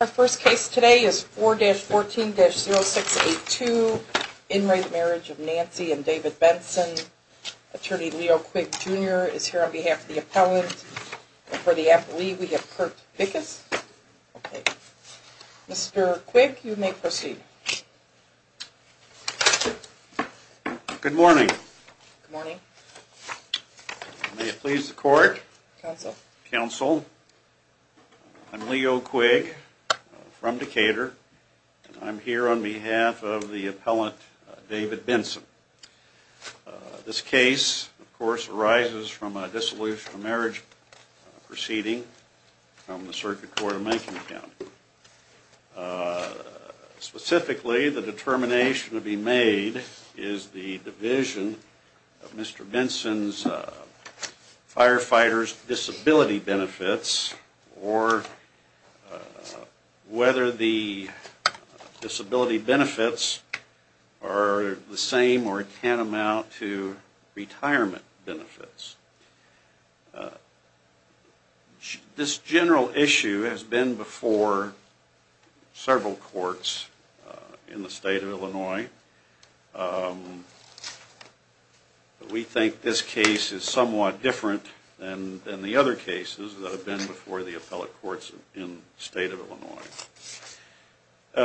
Our first case today is 4-14-0682. In re. Marriage of Nancy and David Benson. Attorney Leo Quigg Jr. is here on behalf of the appellant. And for the affilee, we have Kurt Vickis. Okay. Mr. Quigg, you may proceed. Good morning. Good morning. May it please the court. Council. Council. I'm Leo Quigg, from Decatur, and I'm here on behalf of the appellant, David Benson. This case, of course, arises from a dissolution of marriage proceeding from the Circuit Court of Manking County. Specifically, the determination to be made is the division of Mr. Benson's firefighter's disability benefits, or whether the disability benefits are the same or tantamount to retirement benefits. This general issue has been before several courts in the state of Illinois. We think this case is somewhat different than the other cases that have been before the appellate courts in the state of Illinois.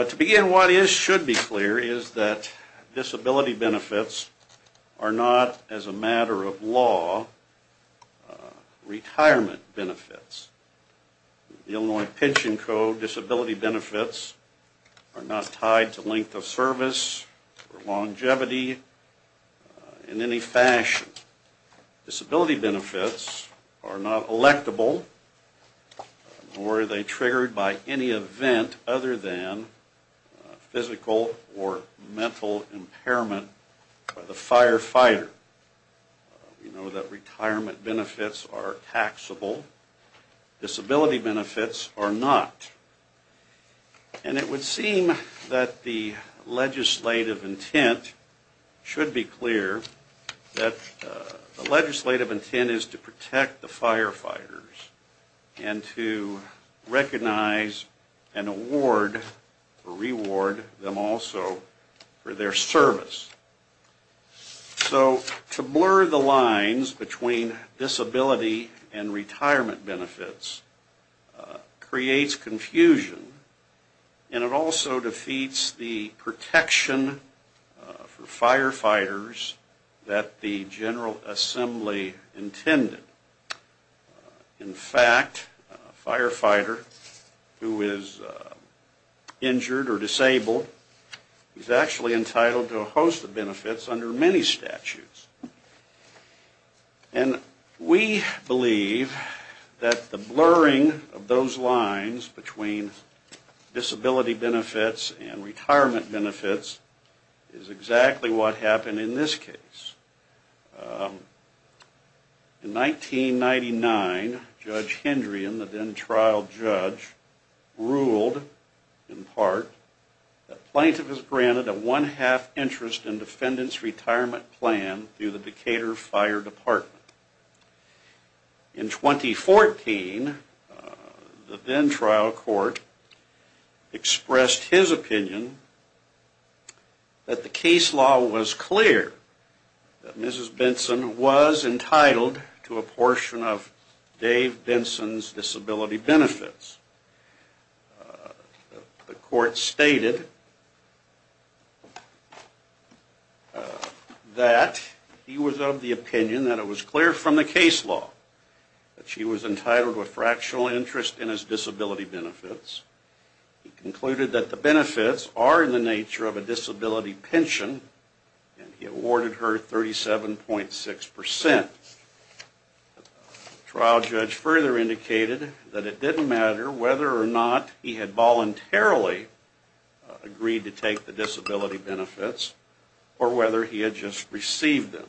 To begin, what should be clear is that disability benefits are not, as a matter of law, retirement benefits. The Illinois Pension Code disability benefits are not tied to length of service or longevity in any fashion. Disability benefits are not electable, nor are they triggered by any event other than physical or mental impairment by the firefighter. We know that retirement benefits are taxable. Disability benefits are not. And it would seem that the legislative intent should be clear that the legislative intent is to protect the firefighters and to recognize and reward them also for their service. So to blur the lines between disability and retirement benefits creates confusion, and it also defeats the protection for firefighters that the General Assembly intended. In fact, a firefighter who is injured or disabled is actually entitled to a host of benefits under many statutes. And we believe that the blurring of those lines between disability benefits and retirement benefits is exactly what happened in this case. In 1999, Judge Hendrian, the then-trial judge, ruled, in part, that plaintiff is granted a one-half interest in defendants' retirement plan through the Decatur Fire Department. In 2014, the then-trial court expressed his opinion that the case law was clear that Mrs. Benson was entitled to a portion of Dave Benson's disability benefits. The court stated that he was of the opinion that it was clear from the case law that she was entitled to a fractional interest in his disability benefits. He concluded that the benefits are in the nature of a disability pension, and he awarded her 37.6%. The trial judge further indicated that it didn't matter whether or not he had voluntarily agreed to take the disability benefits or whether he had just received them.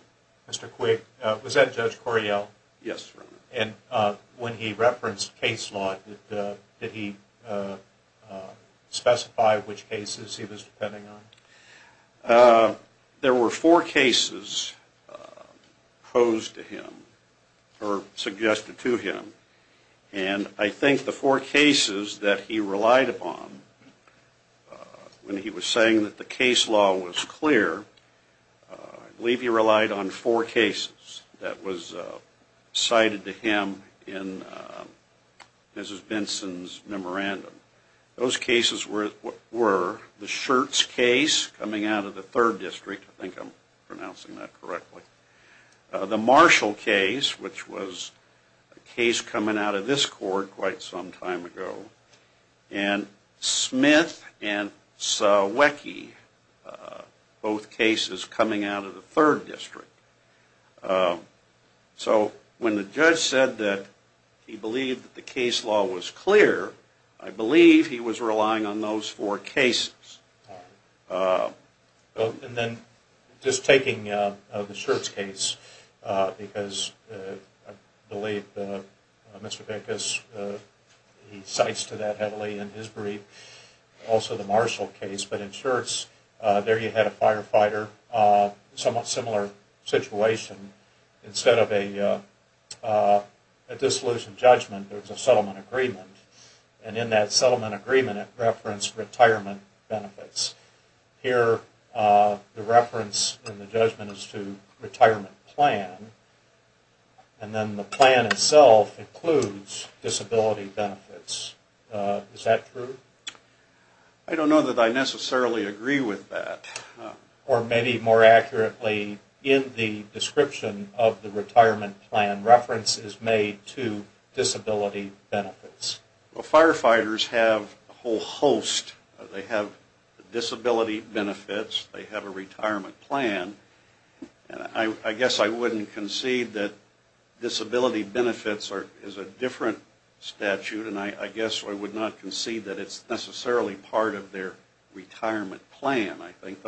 Q. Mr. Quigg, was that Judge Coryell? A. Yes, Your Honor. Q. And when he referenced case law, did he specify which cases he was depending on? A. There were four cases proposed to him, or suggested to him, and I think the four cases that he relied upon when he was saying that the case law was clear, I believe he relied on four cases that was cited to him in Mrs. Benson's memorandum. Those cases were the Schertz case coming out of the Third District, I think I'm pronouncing that correctly, the Marshall case, which was a case coming out of this court quite some time ago, and Smith and Sawicki, both cases coming out of the Third District. So when the judge said that he believed that the case law was clear, I believe he was relying on those four cases. Q. And then just taking the Schertz case, because I believe Mr. Benkus, he cites to that heavily in his brief, also the Marshall case, but in Schertz, there you had a firefighter, somewhat similar situation, instead of a dissolution judgment, there was a settlement agreement, and in that settlement agreement it referenced retirement benefits. Here the reference in the judgment is to retirement plan, and then the plan itself includes disability benefits. Is that true? A. I don't know that I necessarily agree with that. Q. Or maybe more accurately, in the description of the retirement plan, reference is made to disability benefits. A. Well, firefighters have a whole host, they have disability benefits, they have a retirement plan, and I guess I wouldn't concede that disability benefits is a different statute, and I guess I would not concede that it's necessarily part of their retirement plan.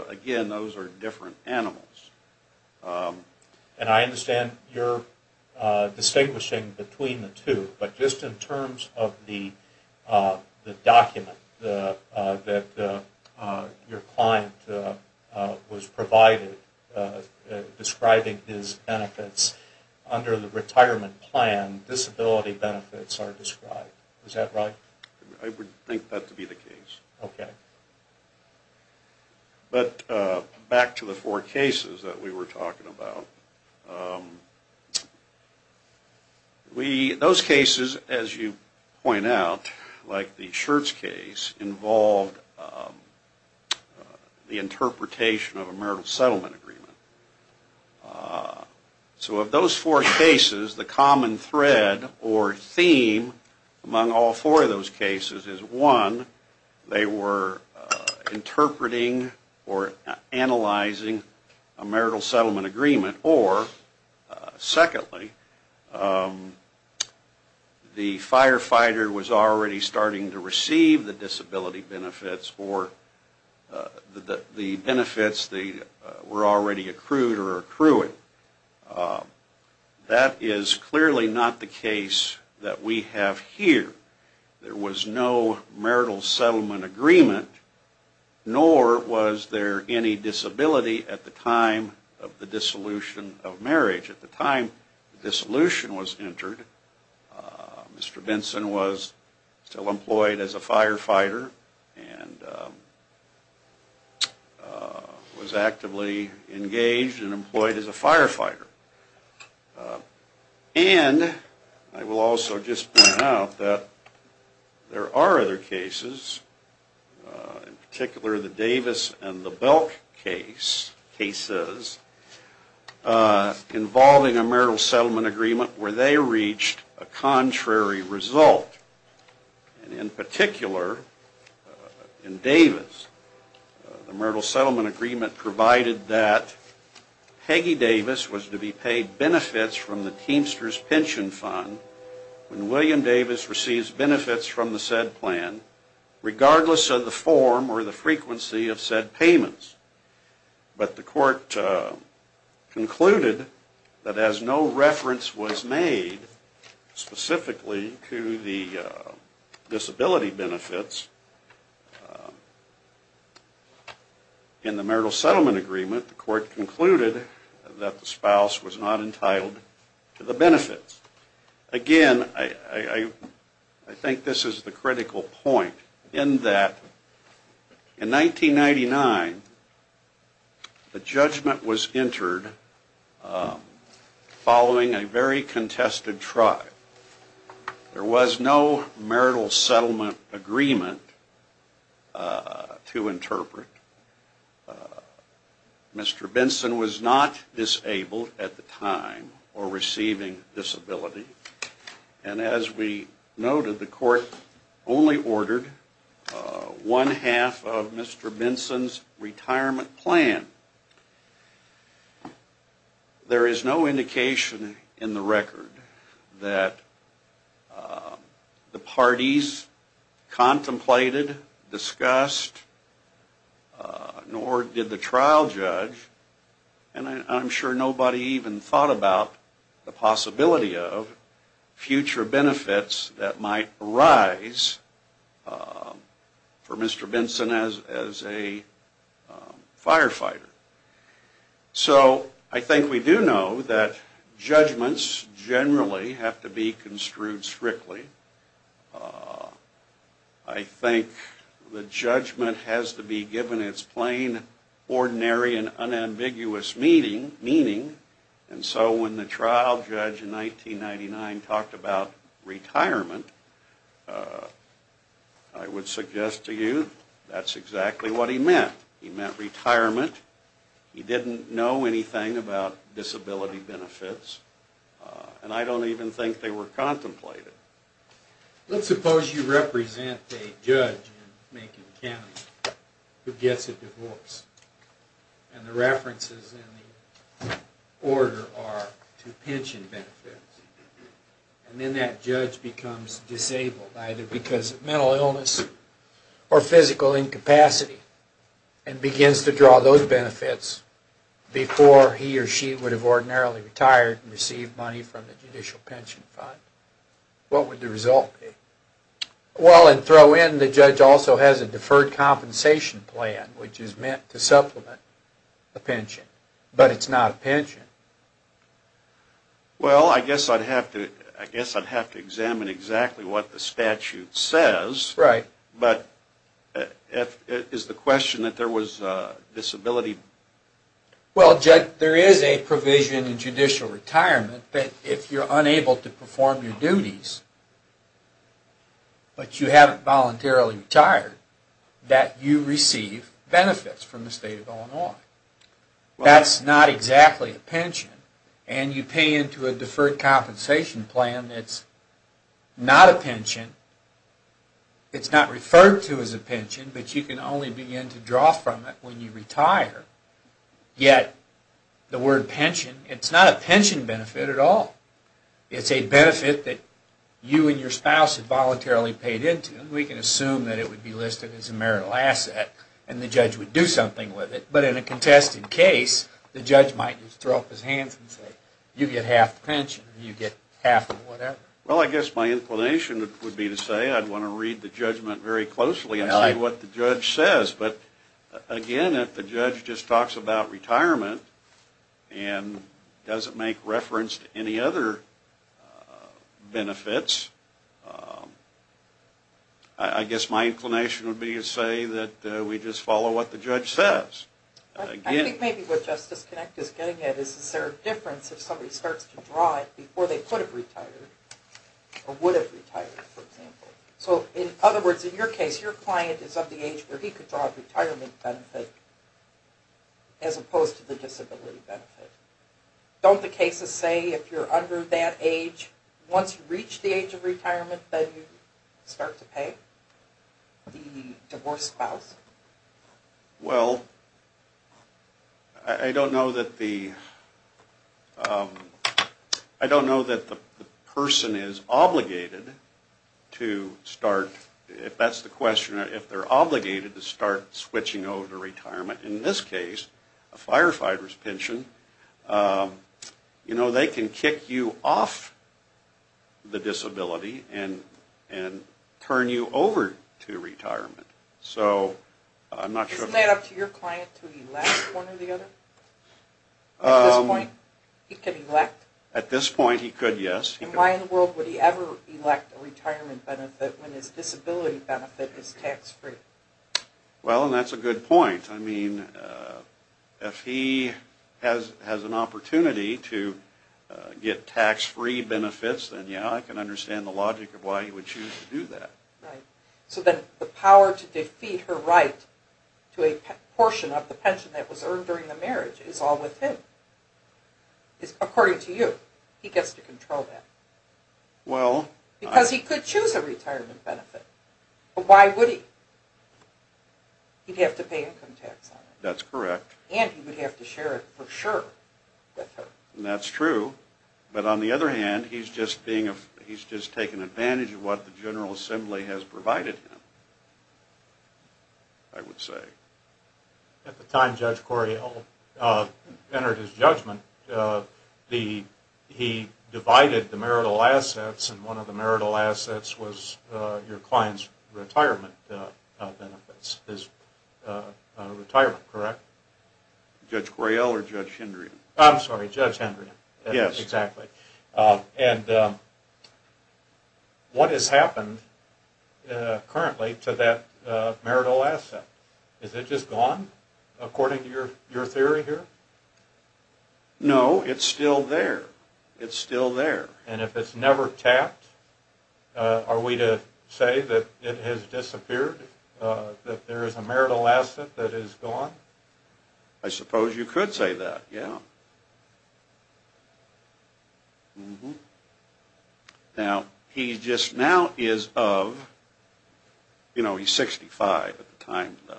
Again, those are different animals. Q. And I understand you're distinguishing between the two, but just in terms of the document that your client was provided describing his benefits under the retirement plan, disability benefits are described. Is that right? A. I would think that to be the case. But back to the four cases that we were talking about. Those cases, as you point out, like the Schertz case, involved the interpretation of a marital settlement agreement. So of those four cases, the common thread or theme among all four of those cases is, one, they were interpreting or analyzing a marital settlement agreement, or, secondly, the firefighter was already starting to receive the disability benefits or the benefits were already accrued or accruing. That is clearly not the case that we have here. There was no marital settlement agreement, nor was there any disability at the time of the dissolution of marriage. At the time the dissolution was entered, Mr. Benson was still employed as a firefighter and was actively engaged and employed as a firefighter. And I will also just point out that there are other cases, in particular the Davis and the Belk cases, involving a marital settlement agreement where they reached a contrary result. And in particular, in Davis, the marital settlement agreement provided that Peggy Davis was to be paid benefits from the Teamsters Pension Fund when William Davis receives benefits from the said plan regardless of the form or the frequency of said payments. But the court concluded that as no reference was made specifically to the disability benefits in the marital settlement agreement, the court concluded that the spouse was not entitled to the benefits. Again, I think this is the critical point in that in 1999, the judgment was entered following a very contested trial. There was no marital settlement agreement to interpret. Mr. Benson was not disabled at the time or receiving disability. And as we noted, the court only ordered one half of Mr. Benson's retirement plan. There is no indication in the record that the parties contemplated, discussed, nor did the trial judge, and I'm sure nobody even thought about the possibility of future benefits that might arise for Mr. Benson as a firefighter. So I think we do know that judgments generally have to be construed strictly. I think the judgment has to be given its plain, ordinary, and unambiguous meaning. And so when the trial judge in 1999 talked about retirement, I would suggest to you that's exactly what he meant. He meant retirement. He didn't know anything about disability benefits. And I don't even think they were contemplated. Let's suppose you represent a judge in Macon County who gets a divorce. And the references in the order are to pension benefits. And then that judge becomes disabled, either because of mental illness or physical incapacity, and begins to draw those benefits before he or she would have ordinarily retired and received money from the Judicial Pension Fund. What would the result be? Well, and throw in the judge also has a deferred compensation plan, which is meant to supplement a pension. But it's not a pension. Well, I guess I'd have to examine exactly what the statute says. But is the question that there was a disability... Well, Judge, there is a provision in judicial retirement that if you're unable to perform your duties, but you haven't voluntarily retired, that you receive benefits from the state of Illinois. That's not exactly a pension. And you pay into a deferred compensation plan that's not a pension. It's not referred to as a pension, but you can only begin to draw from it when you retire. Yet the word pension, it's not a pension benefit at all. It's a benefit that you and your spouse have voluntarily paid into. We can assume that it would be listed as a marital asset, and the judge would do something with it. But in a contested case, the judge might just throw up his hands and say, you get half the pension, you get half of whatever. Well, I guess my inclination would be to say I'd want to read the judgment very closely and see what the judge says. But again, if the judge just talks about retirement and doesn't make reference to any other benefits, I guess my inclination would be to say that we just follow what the judge says. I think maybe what Justice Connick is getting at is is there a difference if somebody starts to draw it before they could have retired or would have retired, for example. So in other words, in your case, your client is of the age where he could draw a retirement benefit as opposed to the disability benefit. Don't the cases say if you're under that age, once you reach the age of retirement, then you start to pay the divorced spouse? Well, I don't know that the... I don't know that the person is obligated to start... If that's the question, if they're obligated to start switching over to retirement, in this case, a firefighter's pension, you know, they can kick you off the disability and turn you over to retirement. So I'm not sure... Isn't that up to your client to elect one or the other? At this point, he could elect? At this point, he could, yes. And why in the world would he ever elect a retirement benefit when his disability benefit is tax-free? Well, and that's a good point. I mean, if he has an opportunity to get tax-free benefits, then yeah, I can understand the logic of why he would choose to do that. Right. So then the power to defeat her right to a portion of the pension that was earned during the marriage is all with him. According to you, he gets to control that. Well... Because he could choose a retirement benefit. But why would he? He'd have to pay income tax on it. That's correct. And he would have to share it for sure with her. And that's true. But on the other hand, he's just being a... he's just taking advantage of what the General Assembly has provided him, I would say. At the time Judge Correale entered his judgment, he divided the marital assets and one of the marital assets was your client's retirement benefits. His retirement, correct? Judge Correale or Judge Hendrian? I'm sorry, Judge Hendrian. Yes. Exactly. And what has happened currently to that marital asset? Is it just gone, according to your theory here? No, it's still there. It's still there. And if it's never tapped, are we to say that it has disappeared, that there is a marital asset that is gone? I suppose you could say that, yeah. Now, he just now is of... you know, he's 65 at the time that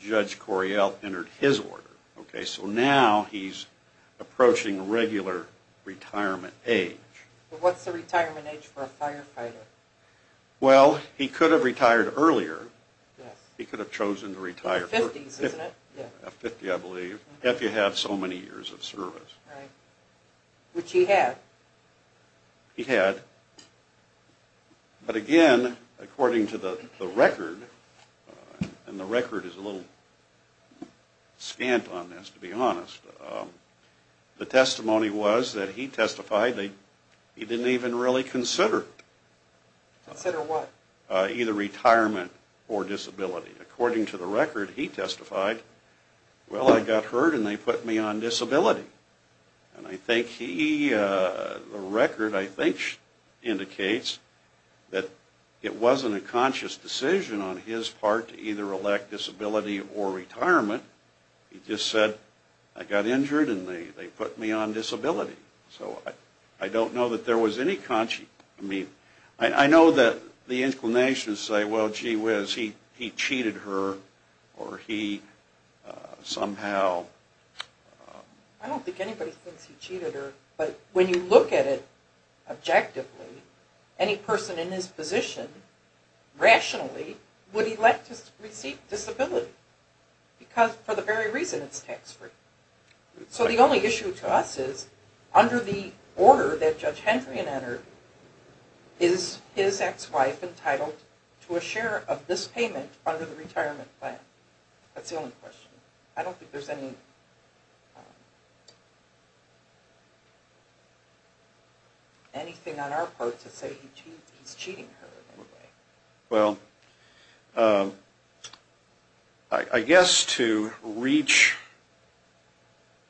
Judge Correale entered his order, okay? So now he's approaching regular retirement age. What's the retirement age for a firefighter? Well, he could have retired earlier. He could have chosen to retire earlier. 50s, isn't it? 50, I believe, if you have so many years of service. Right. Which he had. He had. But again, according to the record, and the record is a little scant on this, to be honest, the testimony was that he testified that he didn't even really consider it. Consider what? Either retirement or disability. According to the record, he testified, well, I got hurt and they put me on disability. And I think he... the record, I think, indicates that it wasn't a conscious decision on his part to either elect disability or retirement. He just said, I got injured and they put me on disability. So I don't know that there was any conscious... I mean, I know that the inclinations say, well, gee whiz, he cheated her or he somehow... I don't think anybody thinks he cheated her. But when you look at it objectively, any person in his position, rationally, would elect to receive disability. Because for the very reason it's tax free. So the only issue to us is under the order that Judge Hendrian entered, is his ex-wife entitled to a share of this payment under the retirement plan? That's the only question. I don't think there's any... anything on our part to say he's cheating her in any way. Well, I guess to reach...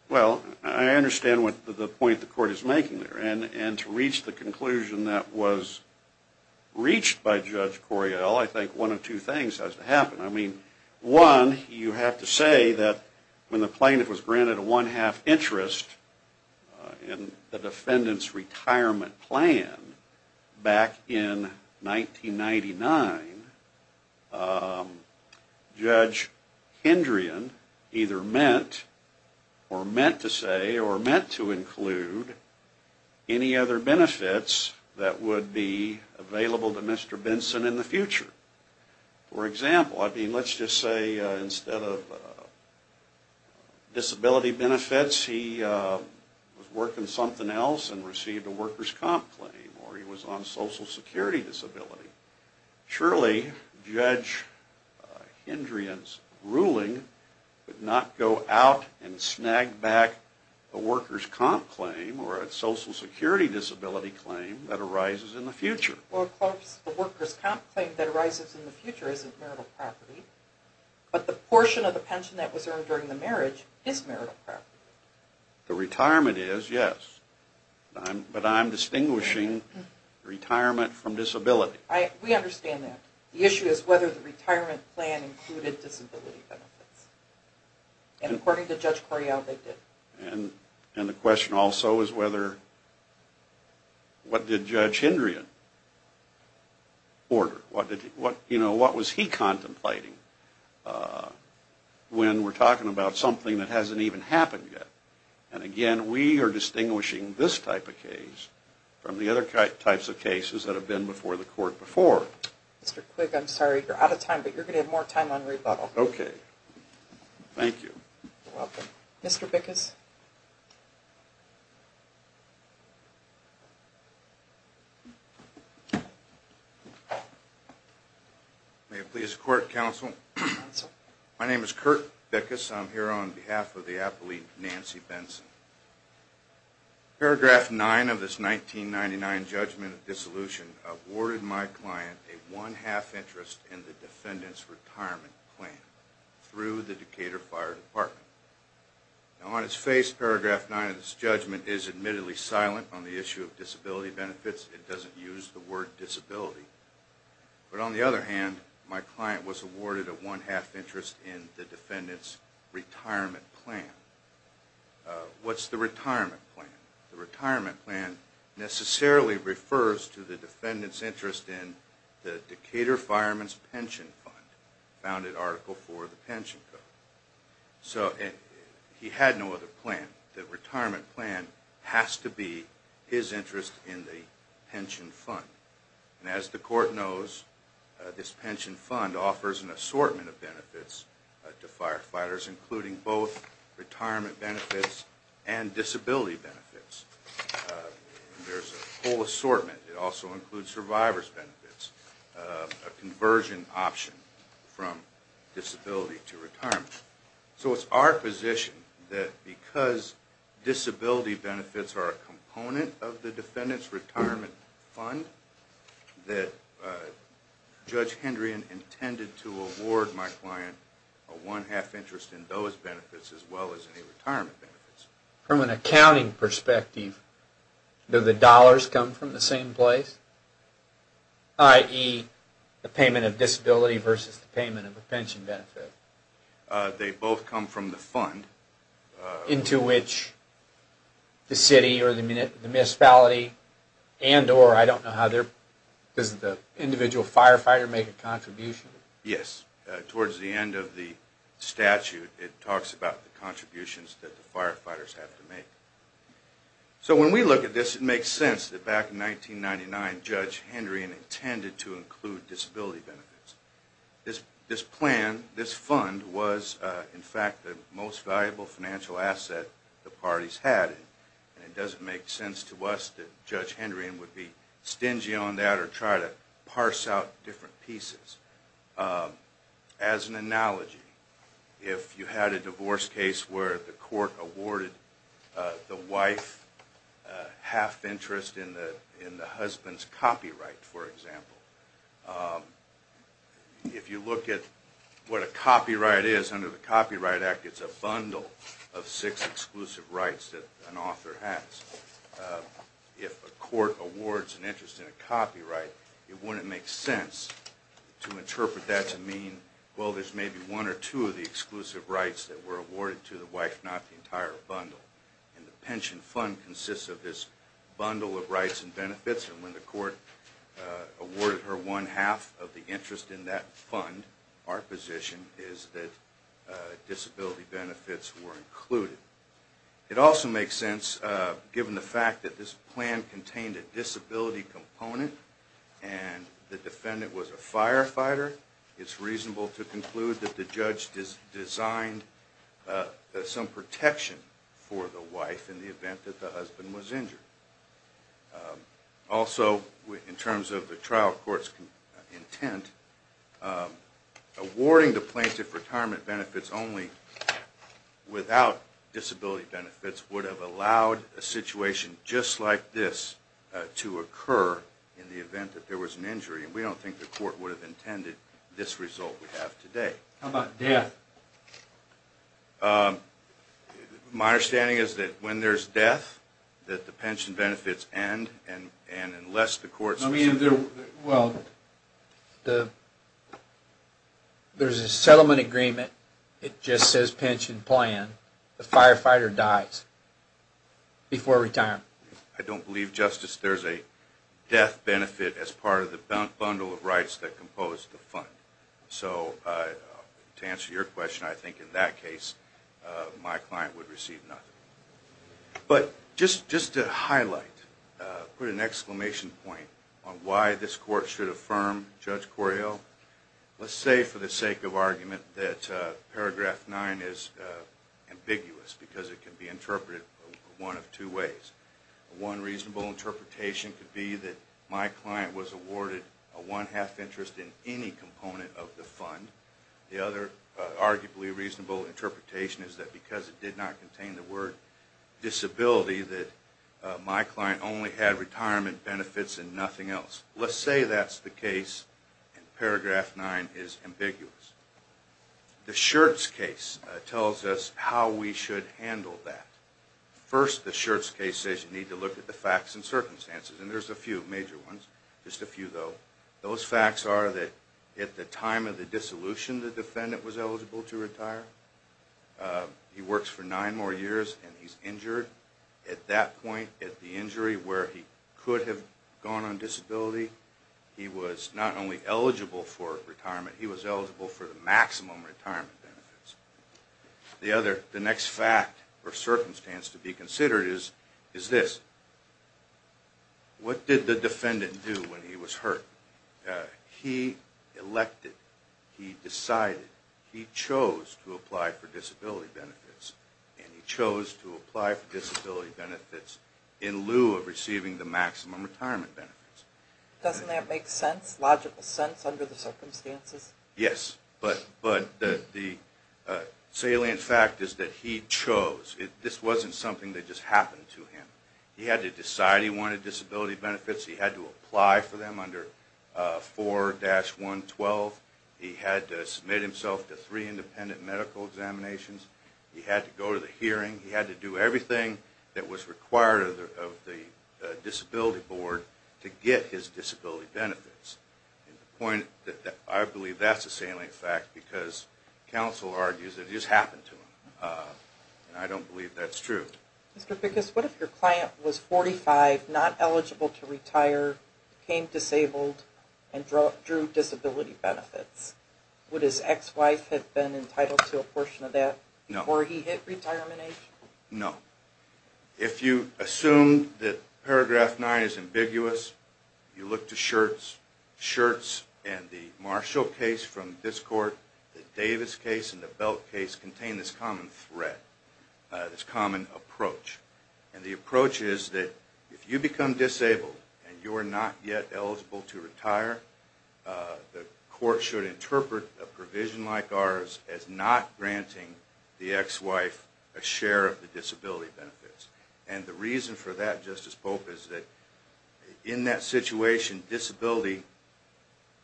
well, I understand the point the court is making there. And to reach the conclusion that was reached by Judge Coryell, I think one of two things has to happen. I mean, one, you have to say that when the plaintiff was granted a one-half interest in the defendant's retirement plan back in 1999, Judge Hendrian either meant or meant to say or meant to include any other benefits that would be available to Mr. Benson in the future. For example, I mean, let's just say instead of disability benefits, he was working something else and received a worker's comp claim or he was on social security disability. Surely, Judge Hendrian's ruling would not go out and snag back a worker's comp claim or a social security disability claim that arises in the future. Well, the worker's comp claim that arises in the future isn't marital property, but the portion of the pension that was earned during the marriage is marital property. The retirement is, yes. But I'm distinguishing retirement from disability. We understand that. The issue is whether the retirement plan included disability benefits. And according to Judge Correal, they did. And the question also is whether what did Judge Hendrian order? You know, what was he contemplating when we're talking about something that hasn't even happened yet? And again, we are distinguishing this type of case from the other types of cases that have been before the court before. Mr. Quigg, I'm sorry, you're out of time, but you're going to have more time on rebuttal. Okay. Thank you. You're welcome. Mr. Bickus? May it please the court, counsel. My name is Kurt Bickus. I'm here on behalf of the appellee, Nancy Benson. Paragraph 9 of this 1999 judgment of dissolution awarded my client a one-half interest in the defendant's retirement plan through the Decatur Fire Department. Now, on its face, paragraph 9 of this judgment is admittedly silent on the issue of disability benefits. It doesn't use the word disability. But on the other hand, my client was awarded a one-half interest in the defendant's retirement plan. What's the retirement plan? The retirement plan necessarily refers to the defendant's interest in the Decatur Fireman's Pension Fund, founded Article IV of the Pension Code. So, he had no other plan. The retirement plan has to be his interest in the pension fund. And as the court knows, this pension fund offers an assortment of benefits to firefighters including both retirement benefits and disability benefits. There's a whole assortment. It also includes survivor's benefits. A conversion option from disability to retirement. So, it's our position that because disability benefits are a component of the defendant's retirement fund that Judge Hendrian intended to award my client a one-half interest in those benefits as well as any retirement benefits. From an accounting perspective, do the dollars come from the same place? I.e., the payment of disability versus the payment of a pension benefit? They both come from the fund. Into which the city or the municipality and or, I don't know how their, does the individual firefighter make a contribution? Yes. Towards the end of the statute it talks about the contributions that the firefighters have to make. So, when we look at this it makes sense that back in 1999 Judge Hendrian intended to include disability benefits. This plan, this fund was, in fact, the most valuable financial asset the parties had and it doesn't make sense to us that Judge Hendrian would be stingy on that or try to as an analogy if you had a divorce case where the court awarded the wife half interest in the husband's copyright, for example. If you look at what a copyright is under the Copyright Act it's a bundle of six exclusive rights that an author has. If a court awards an interest in a copyright it wouldn't make sense to interpret that to mean well, there's maybe one or two of the exclusive rights that were awarded to the wife, not the entire bundle. And the pension fund consists of this bundle of rights and benefits and when the court awarded her one half of the interest in that fund our position is that disability benefits were included. It also makes sense given the fact that this plan contained a disability component and the defendant was a firefighter it's reasonable to conclude that the judge designed some protection for the wife in the event that the husband was injured. Also, in terms of the trial court's intent, awarding plaintiff retirement benefits only without disability benefits would have allowed a situation just like this to occur in the event that there was an injury. We don't think the court would have intended this result we have today. How about death? My understanding is that when there's death that the pension benefits end and unless the court... Well, there's a settlement agreement, it just says pension plan, the firefighter dies before retirement. I don't believe, Justice, there's a death benefit as part of the bundle of rights that compose the fund. So, to answer your question, I think in that case, my client would receive nothing. But, just to highlight, put an exclamation point on why this court should affirm Judge Corio, let's say for the sake of argument that paragraph 9 is ambiguous because it can be interpreted one of two ways. One reasonable interpretation is that because it did not contain the word disability, that my client only had retirement benefits and nothing else. Let's say that's the case, and paragraph 9 is ambiguous. The Schertz case tells us how we should handle that. First, the Schertz case says you need to look at the facts and not the If the defendant was eligible for maximum retirement benefits, the next fact or circumstance to be considered is this. What did the defendant do when he was hurt? He elected, he decided, he chose to apply for disability benefits. And he chose to apply for disability benefits in lieu of receiving the maximum retirement benefits. Doesn't that make sense, logical sense under the circumstances? Yes, but the salient fact is that he chose, this wasn't something that just happened to him. He had to decide he wanted disability benefits, he had to apply for them under 4-112, he had to submit himself to three independent medical examinations, he had to go to the hearing, he had to do everything that was required of the disability board to get his disability benefits. I believe that's a salient fact because counsel argues it just happened to him. I don't believe that's true. Mr. Pickus, what if your client was 45, not eligible to retire, became disabled, and drew disability benefits? Would his ex-wife have been entitled to a portion of that before he hit retirement age? No. If you assume that paragraph 9 is ambiguous, you look to shirts, shirts and the Marshall case from this court, the Davis case and the Belt case contain this common threat, this common approach. And the approach is that if you become disabled and you're not yet eligible to retire, the court should interpret a provision like ours as not granting the ex-wife a share of the disability benefits. And the reason for that, Justice Pope, is that in that situation, disability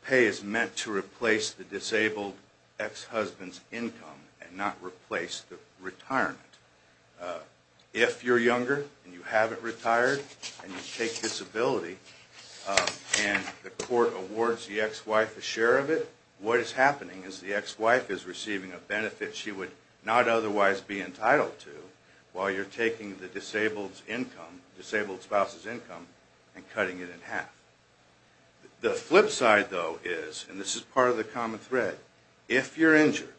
pay is meant to replace the disabled ex-husband's income and not replace the retirement. If you're younger and you haven't retired and you take disability and the court awards the ex-wife a share of it, what is happening is the ex-wife is receiving a benefit she would not otherwise be entitled to while you're taking the disabled spouse's income and cutting it in half. The flip side, though, is, and this is part of the common threat, if you're injured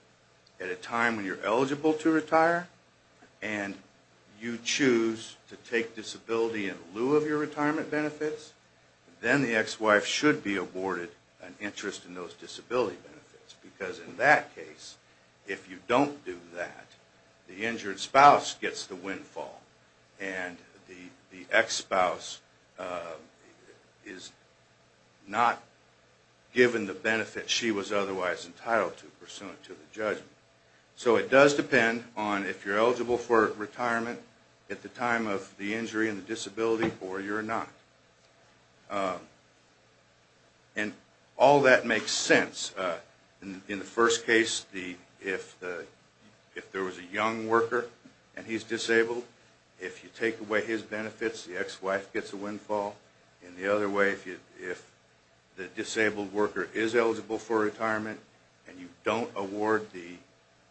at a time when you're eligible to retire and you choose to take disability in lieu of your retirement benefits, then the ex-wife should be awarded an interest in those disability benefits. Because in that case, if you don't do that, the injured spouse gets the windfall. And the ex-spouse is not given the benefit she was otherwise entitled to pursuant to the judgment. So it does depend on if you're eligible for retirement at the time of the injury and the disability or you're not. And all that makes sense. In the first case, if there was a young worker and he's disabled, if you take away his benefits, the ex-wife gets the windfall. And the other way, if the disabled worker is eligible to retire, you award the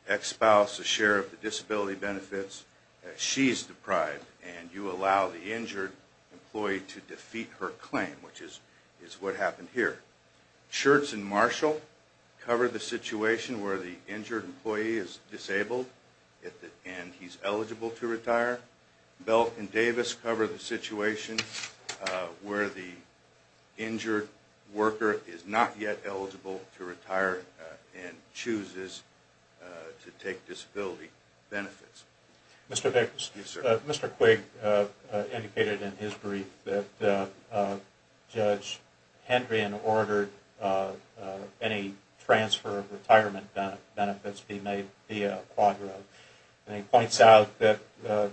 ex-spouse a share of the disability benefits as she's deprived and you allow the injured employee to defeat her claim, which is what happened here. Schertz and Marshall cover the situation where the injured employee is disabled and he's eligible to retire. Belk and Davis cover the situation where the injured employee chooses to take disability benefits. Mr. Quigg indicated in his brief that Judge Hendrian ordered any transfer of benefits be made via Quadro. And he points out that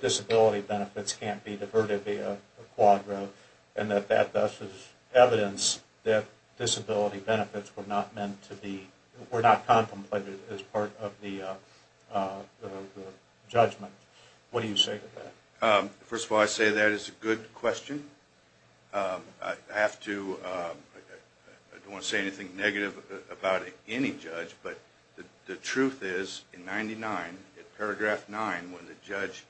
disability benefits can't be diverted via Quadro and that that, thus, is evidence that disability benefits were not meant to be diverted. Mr. Quigg in his brief that Judge made via Quadro. And he points out that Judge Hendrian ordered any transfer of benefits be made via Quadro. Mr. Quigg indicated that Judge Hendrian ordered any transfer of that, thus, is evidence that Judge Hendrian ordered any transfer of benefits be made via Quadro. Quigg indicated that Judge Hendrian ordered any transfer of benefits be made via Quadro. And he points out that Judge Hendrian ordered any transfer of Quadro.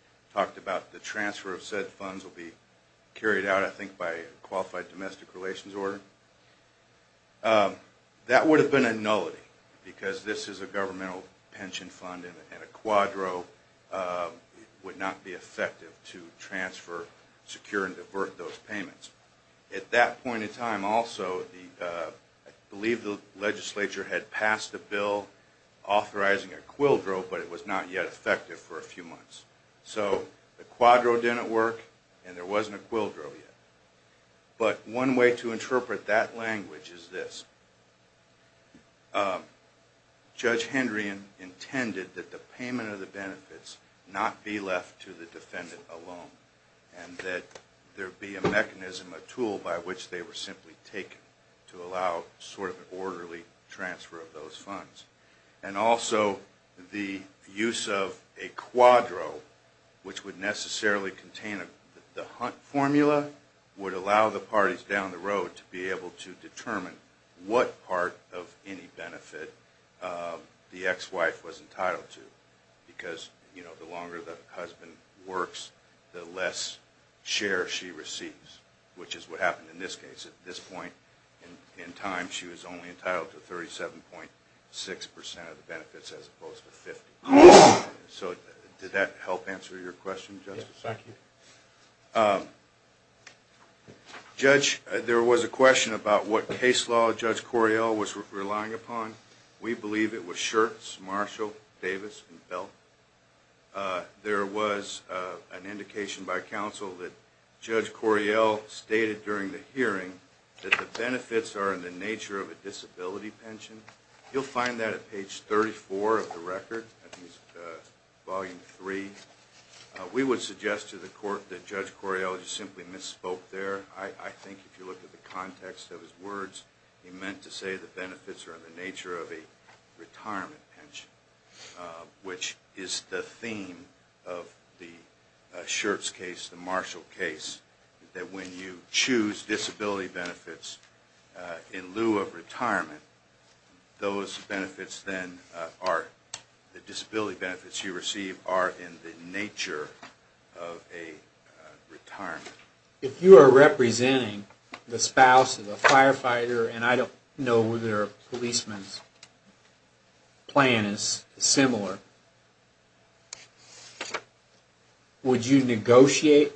Judge Hendrian intended that the payment of the benefits not be left to the defendant alone and that there be a mechanism, a tool by which they were simply taken to allow sort of an orderly transfer of those funds. And also the use of a Quadro which would necessarily contain a the Hunt formula would allow the parties down the road to be able to determine what part of any benefit the ex-wife was entitled to because, you know, the longer the husband works the less share she receives, which is what happened in this case. At this point in time she was only entitled to 37.6 percent of the benefits as opposed to 50. So did that help answer your question justice? Yes, thank you. Judge, there was a question about what case law Judge Coriel was relying upon. We believe it was Schertz, Marshall, Davis, and Belt. There was an indication by counsel that Judge Coriel stated during the hearing that the benefits are in the nature of a disability pension. You'll find that at page 34 of the record, Volume 3. We would suggest to the court that Judge Coriel simply misspoke there. I think if you look at the context of his words he meant to say the benefits are in the nature of a retirement pension, which is the theme of the Schertz case, the Marshall case, that when you choose disability benefits in lieu of retirement, those benefits then are the disability benefits you receive are in the nature of a retirement. If you are representing the spouse of a retired policeman, the plan is similar. Would you negotiate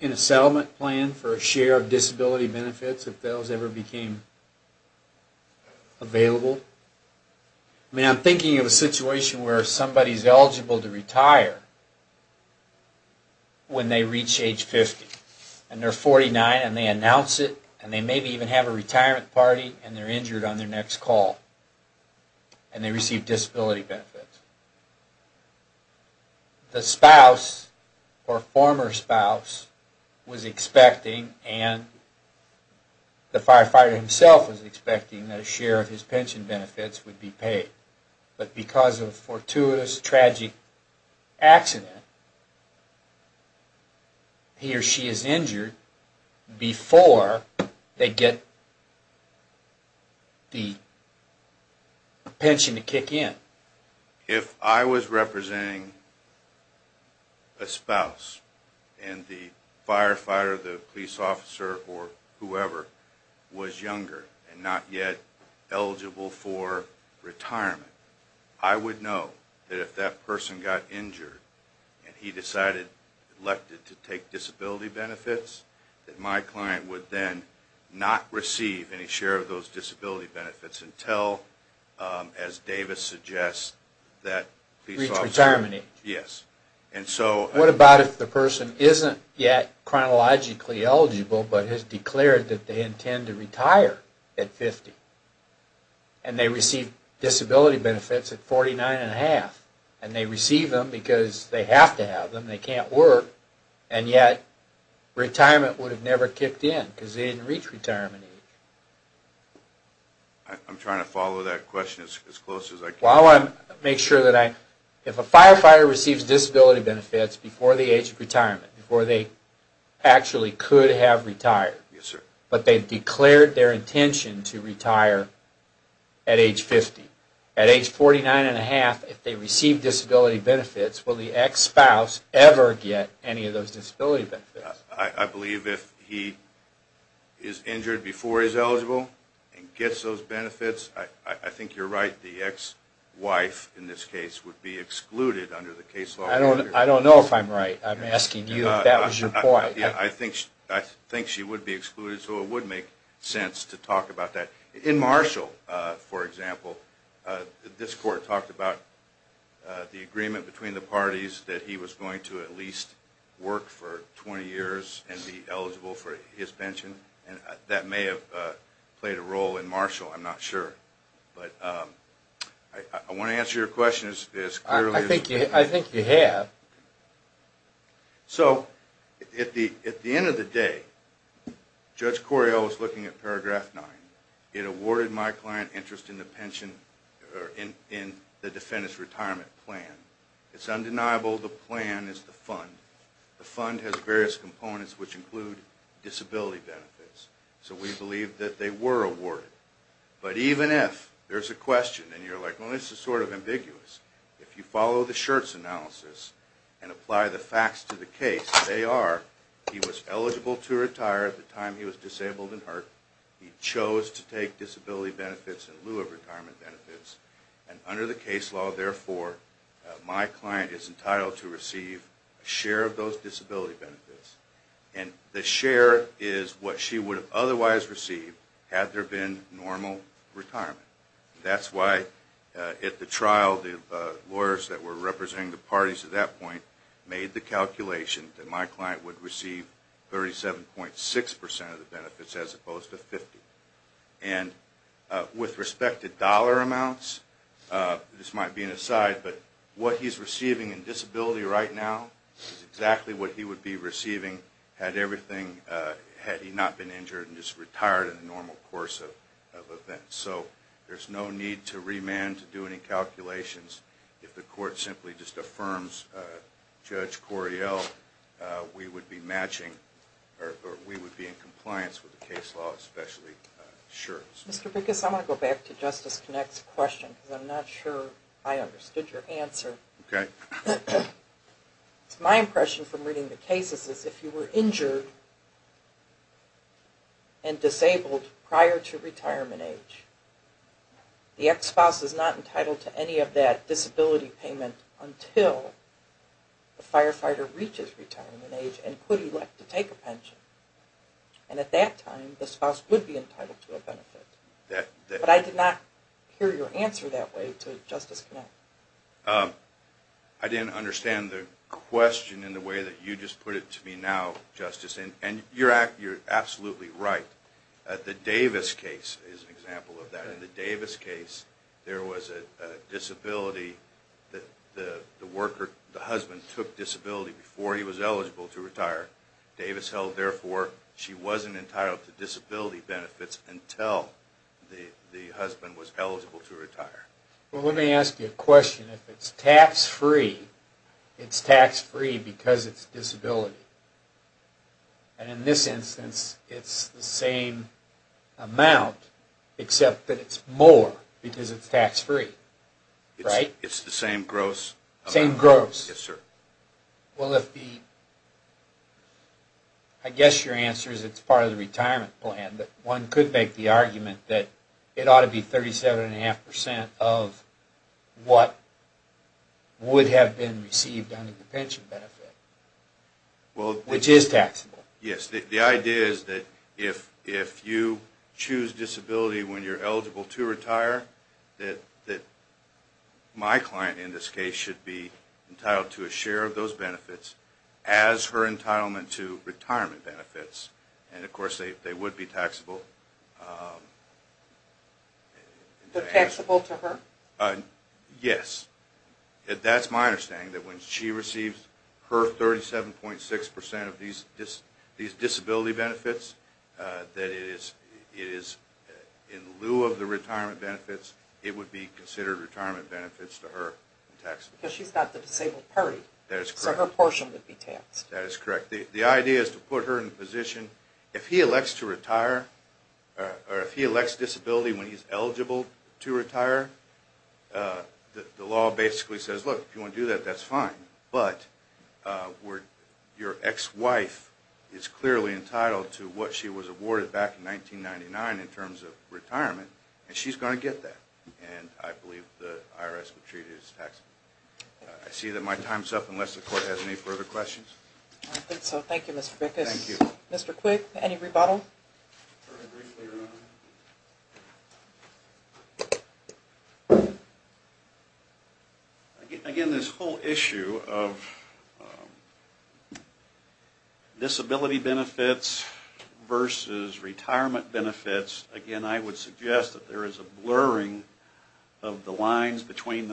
in a settlement plan for a share of disability benefits if those ever became available? I'm thinking of a situation where somebody is eligible to retire when they reach age 50. They're 49 and they announce it and they maybe even have a retirement party and they're injured on their next call and they receive disability benefits. The spouse or former spouse was expecting and the firefighter himself was expecting that a share of his pension benefits would be paid, but because of a fortuitous tragic accident, he or she is not for retirement. If I was representing a spouse and the firefighter, the police officer, or whoever was younger and not yet eligible for retirement, I would know that if that person got injured and he decided to take disability benefits, that my client would then not receive any share of those disability benefits until, as Davis suggests, that police officer... Reach retirement age? Yes. What about if the person isn't yet chronologically eligible but has declared that they intend to retire at 50 and they receive disability benefits at 49 and a half and they receive them because they didn't reach retirement age? I'm trying to follow that question as close as I can. While I'm... Make sure that I... If a firefighter receives disability benefits before the age of retirement, before they actually could have retired, but they declared their intention to retire at age 50, at age 49 and a half, if they receive disability benefits, will the ex-spouse ever get any of those disability benefits? I believe if he is injured before he's eligible and gets those benefits, I think you're right, the ex-wife in this case would be excluded under the case law. I don't know if I'm right. I'm asking you if that was your point. I think she would be excluded so it would make sense to talk about that. In Marshall, for example, this court talked about the agreement between the parties that he was going to at least work for 20 years and be eligible for his pension. That may have played a role in Marshall, I'm not sure. But I want to answer your question. I think you have. So at the end of the day, Judge Corio was looking at paragraph 9. It awarded my client interest in the pension in the defendant's retirement plan. It's undeniable the plan is the fund. The fund has various components which include disability benefits. So we have disability benefits. If you follow the Schertz analysis and apply the facts to the case, they are he was eligible to retire at the time he was disabled and hurt, he chose to take disability benefits in lieu of retirement benefits, and under the case law, therefore, my client is entitled to receive a share of those disability benefits, and the share is what she would have otherwise received had there been normal retirement. That's why at the trial, the lawyers that were representing the parties at that point made the calculation that my client would receive 37.6 percent of the benefits as opposed to 50. And with respect to dollar amounts, this might be an aside, but what he's receiving in disability right now is exactly what he would be receiving had everything, had he not been injured and just retired in the normal course of events. So there's no need to remand to do any calculations if the court simply just affirms Judge Coriell we would be matching or we would be in compliance with the case law especially sure. Mr. Biggis, I want to go back to Justice Connacht's question because I'm not sure I understood your answer. Okay. My impression from reading the cases is if you were injured and disabled prior to retirement age, the ex-spouse is not entitled to any of that disability payment until the firefighter reaches retirement age and could elect to take a pension and at that time the spouse would be entitled to a benefit. But I did not hear your answer that way to Justice Connacht. I didn't understand the question in the way that you just put it to me now, Justice, and you're absolutely right. The Davis case is an example of that. In the Davis case, there was a disability that the worker, the husband took disability before he was eligible to retire. Davis held therefore she wasn't entitled to disability benefits until the husband was eligible to retire. Well, let me ask you a question. If it's tax-free, it's tax-free because it's disability. And in this instance, it's the same amount, except that it's more because it's tax-free, right? It's the same gross amount. Same gross. Yes, sir. Well, if the... I guess your answer is it's part of the retirement plan, but one could make the argument that it ought to be 37.5% of what would have been received under the pension benefit, which is taxable. Yes, the idea is that if you choose disability when you're eligible to retire, that my client in this case should be entitled to a share of those benefits as her entitlement to retirement benefits. And, of course, they would be taxable. to her? Yes. That's my understanding, that when she receives her 37.6% of these disability benefits, that it is eligible to retirement benefits. It is in lieu of the retirement benefits, it would be considered retirement benefits to her. Because she's got the disabled party, so her portion would be taxed. That is correct. The idea is to put her in the position, if he elects to retire, or if he elects disability when he's eligible to retire, the law basically says, look, if you want to do that, that's fine. But your ex-wife is clearly entitled to what she was awarded back in 1999 in terms of retirement, and she's going to get that. And I believe the IRS would treat it as taxable. I see that my time is up unless the court has any further questions. Thank you, Mr. Bickus. Mr. Quick, any rebuttal? Again, this whole issue of disability retirement benefits, again, I would suggest that there is a blurring of the lines between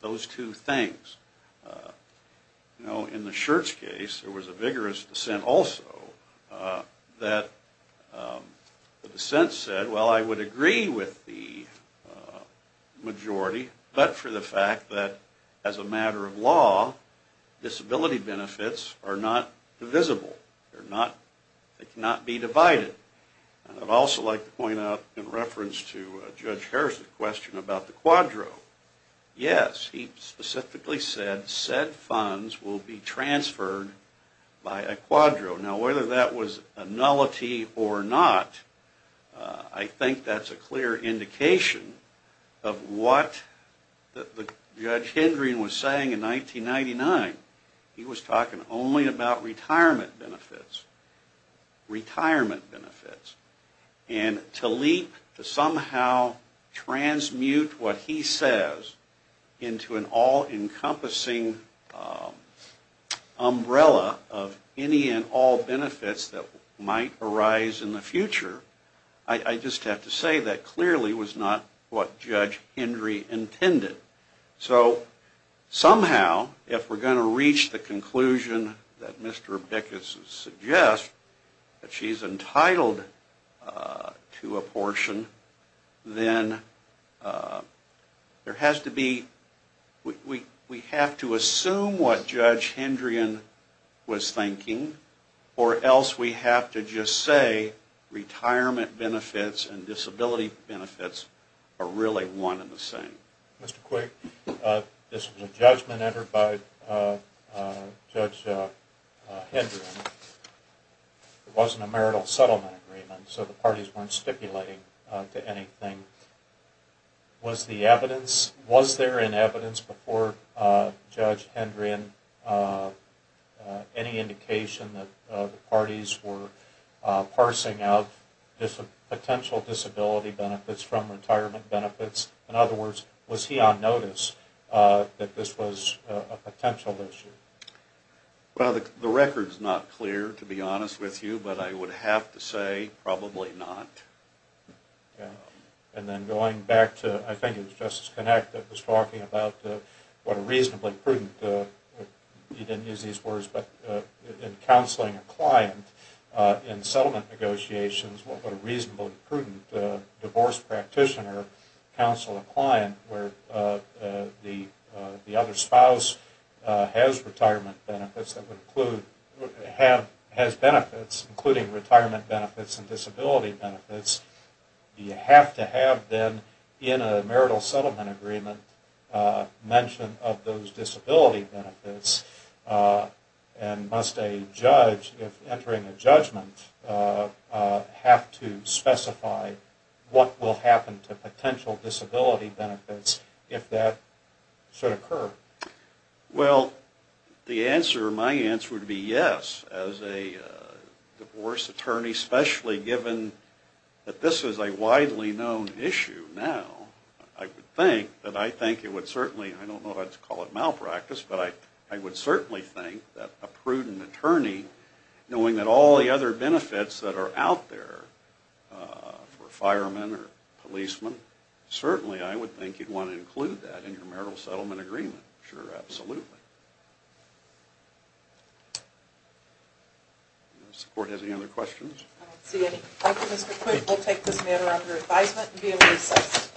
those two things. You know, if you look at the Shirts case, there was a vigorous dissent also that the dissent said, well, I would agree with the majority, but for the fact that as a matter of law, disability benefits are not divisible. They cannot be divided. And I'd also like to point out in reference to Judge Harrison's question about the quadro, yes, he specifically said said funds will be transferred by a quadro. Now, whether that was a nullity or not, I think that's a clear indication of what the Judge Hendreen was saying in 1999. He was talking only about retirement benefits. Retirement benefits. And to leap, to somehow transmute what he says into an all-encompassing umbrella of any and all benefits that might arise in the future, I just have to say that clearly was not what Judge Hendreen intended. So, somehow, going to reach the conclusion that Mr. Bickus suggests, that she's entitled to a portion, then there has to be, we have to assume what Judge Hendreen was thinking, or else we have to just say retirement benefits and disability benefits are really one and the same. Mr. Quigg, this was a judgment entered by Judge Hendreen. It wasn't a marital settlement agreement, so the parties weren't stipulating to anything. Was the evidence, was there any evidence before Judge Hendreen any indication that the parties were parsing out potential disability benefits from retirement benefits? In other words, was he on notice that this was a potential issue? Well, the record's not clear, to be honest with you, but I would have to say probably not. And then going back to, I think it was Justice Connacht that was talking about what a reasonably prudent, he didn't use these words, but in counseling a client in settlement negotiations, what a reasonably prudent divorce practitioner counseled a client where the other spouse has retirement benefits, including retirement benefits and disability benefits, you have to have them in a marital settlement agreement mention of those disability benefits, and must a judge, if entering a judgment, have to specify what will happen to potential disability benefits if that should occur? Well, the answer, my answer would be yes. As a divorce attorney, especially given that this is a widely known issue now, I would think that I think it would certainly, I don't know if I'd call it malpractice, but I would certainly think that a prudent attorney knowing that all the other benefits that are out there for firemen or policemen, certainly I would think you'd want to include that in your marital settlement agreement. Sure, I would certainly look at this matter under advisement and be able to assess it.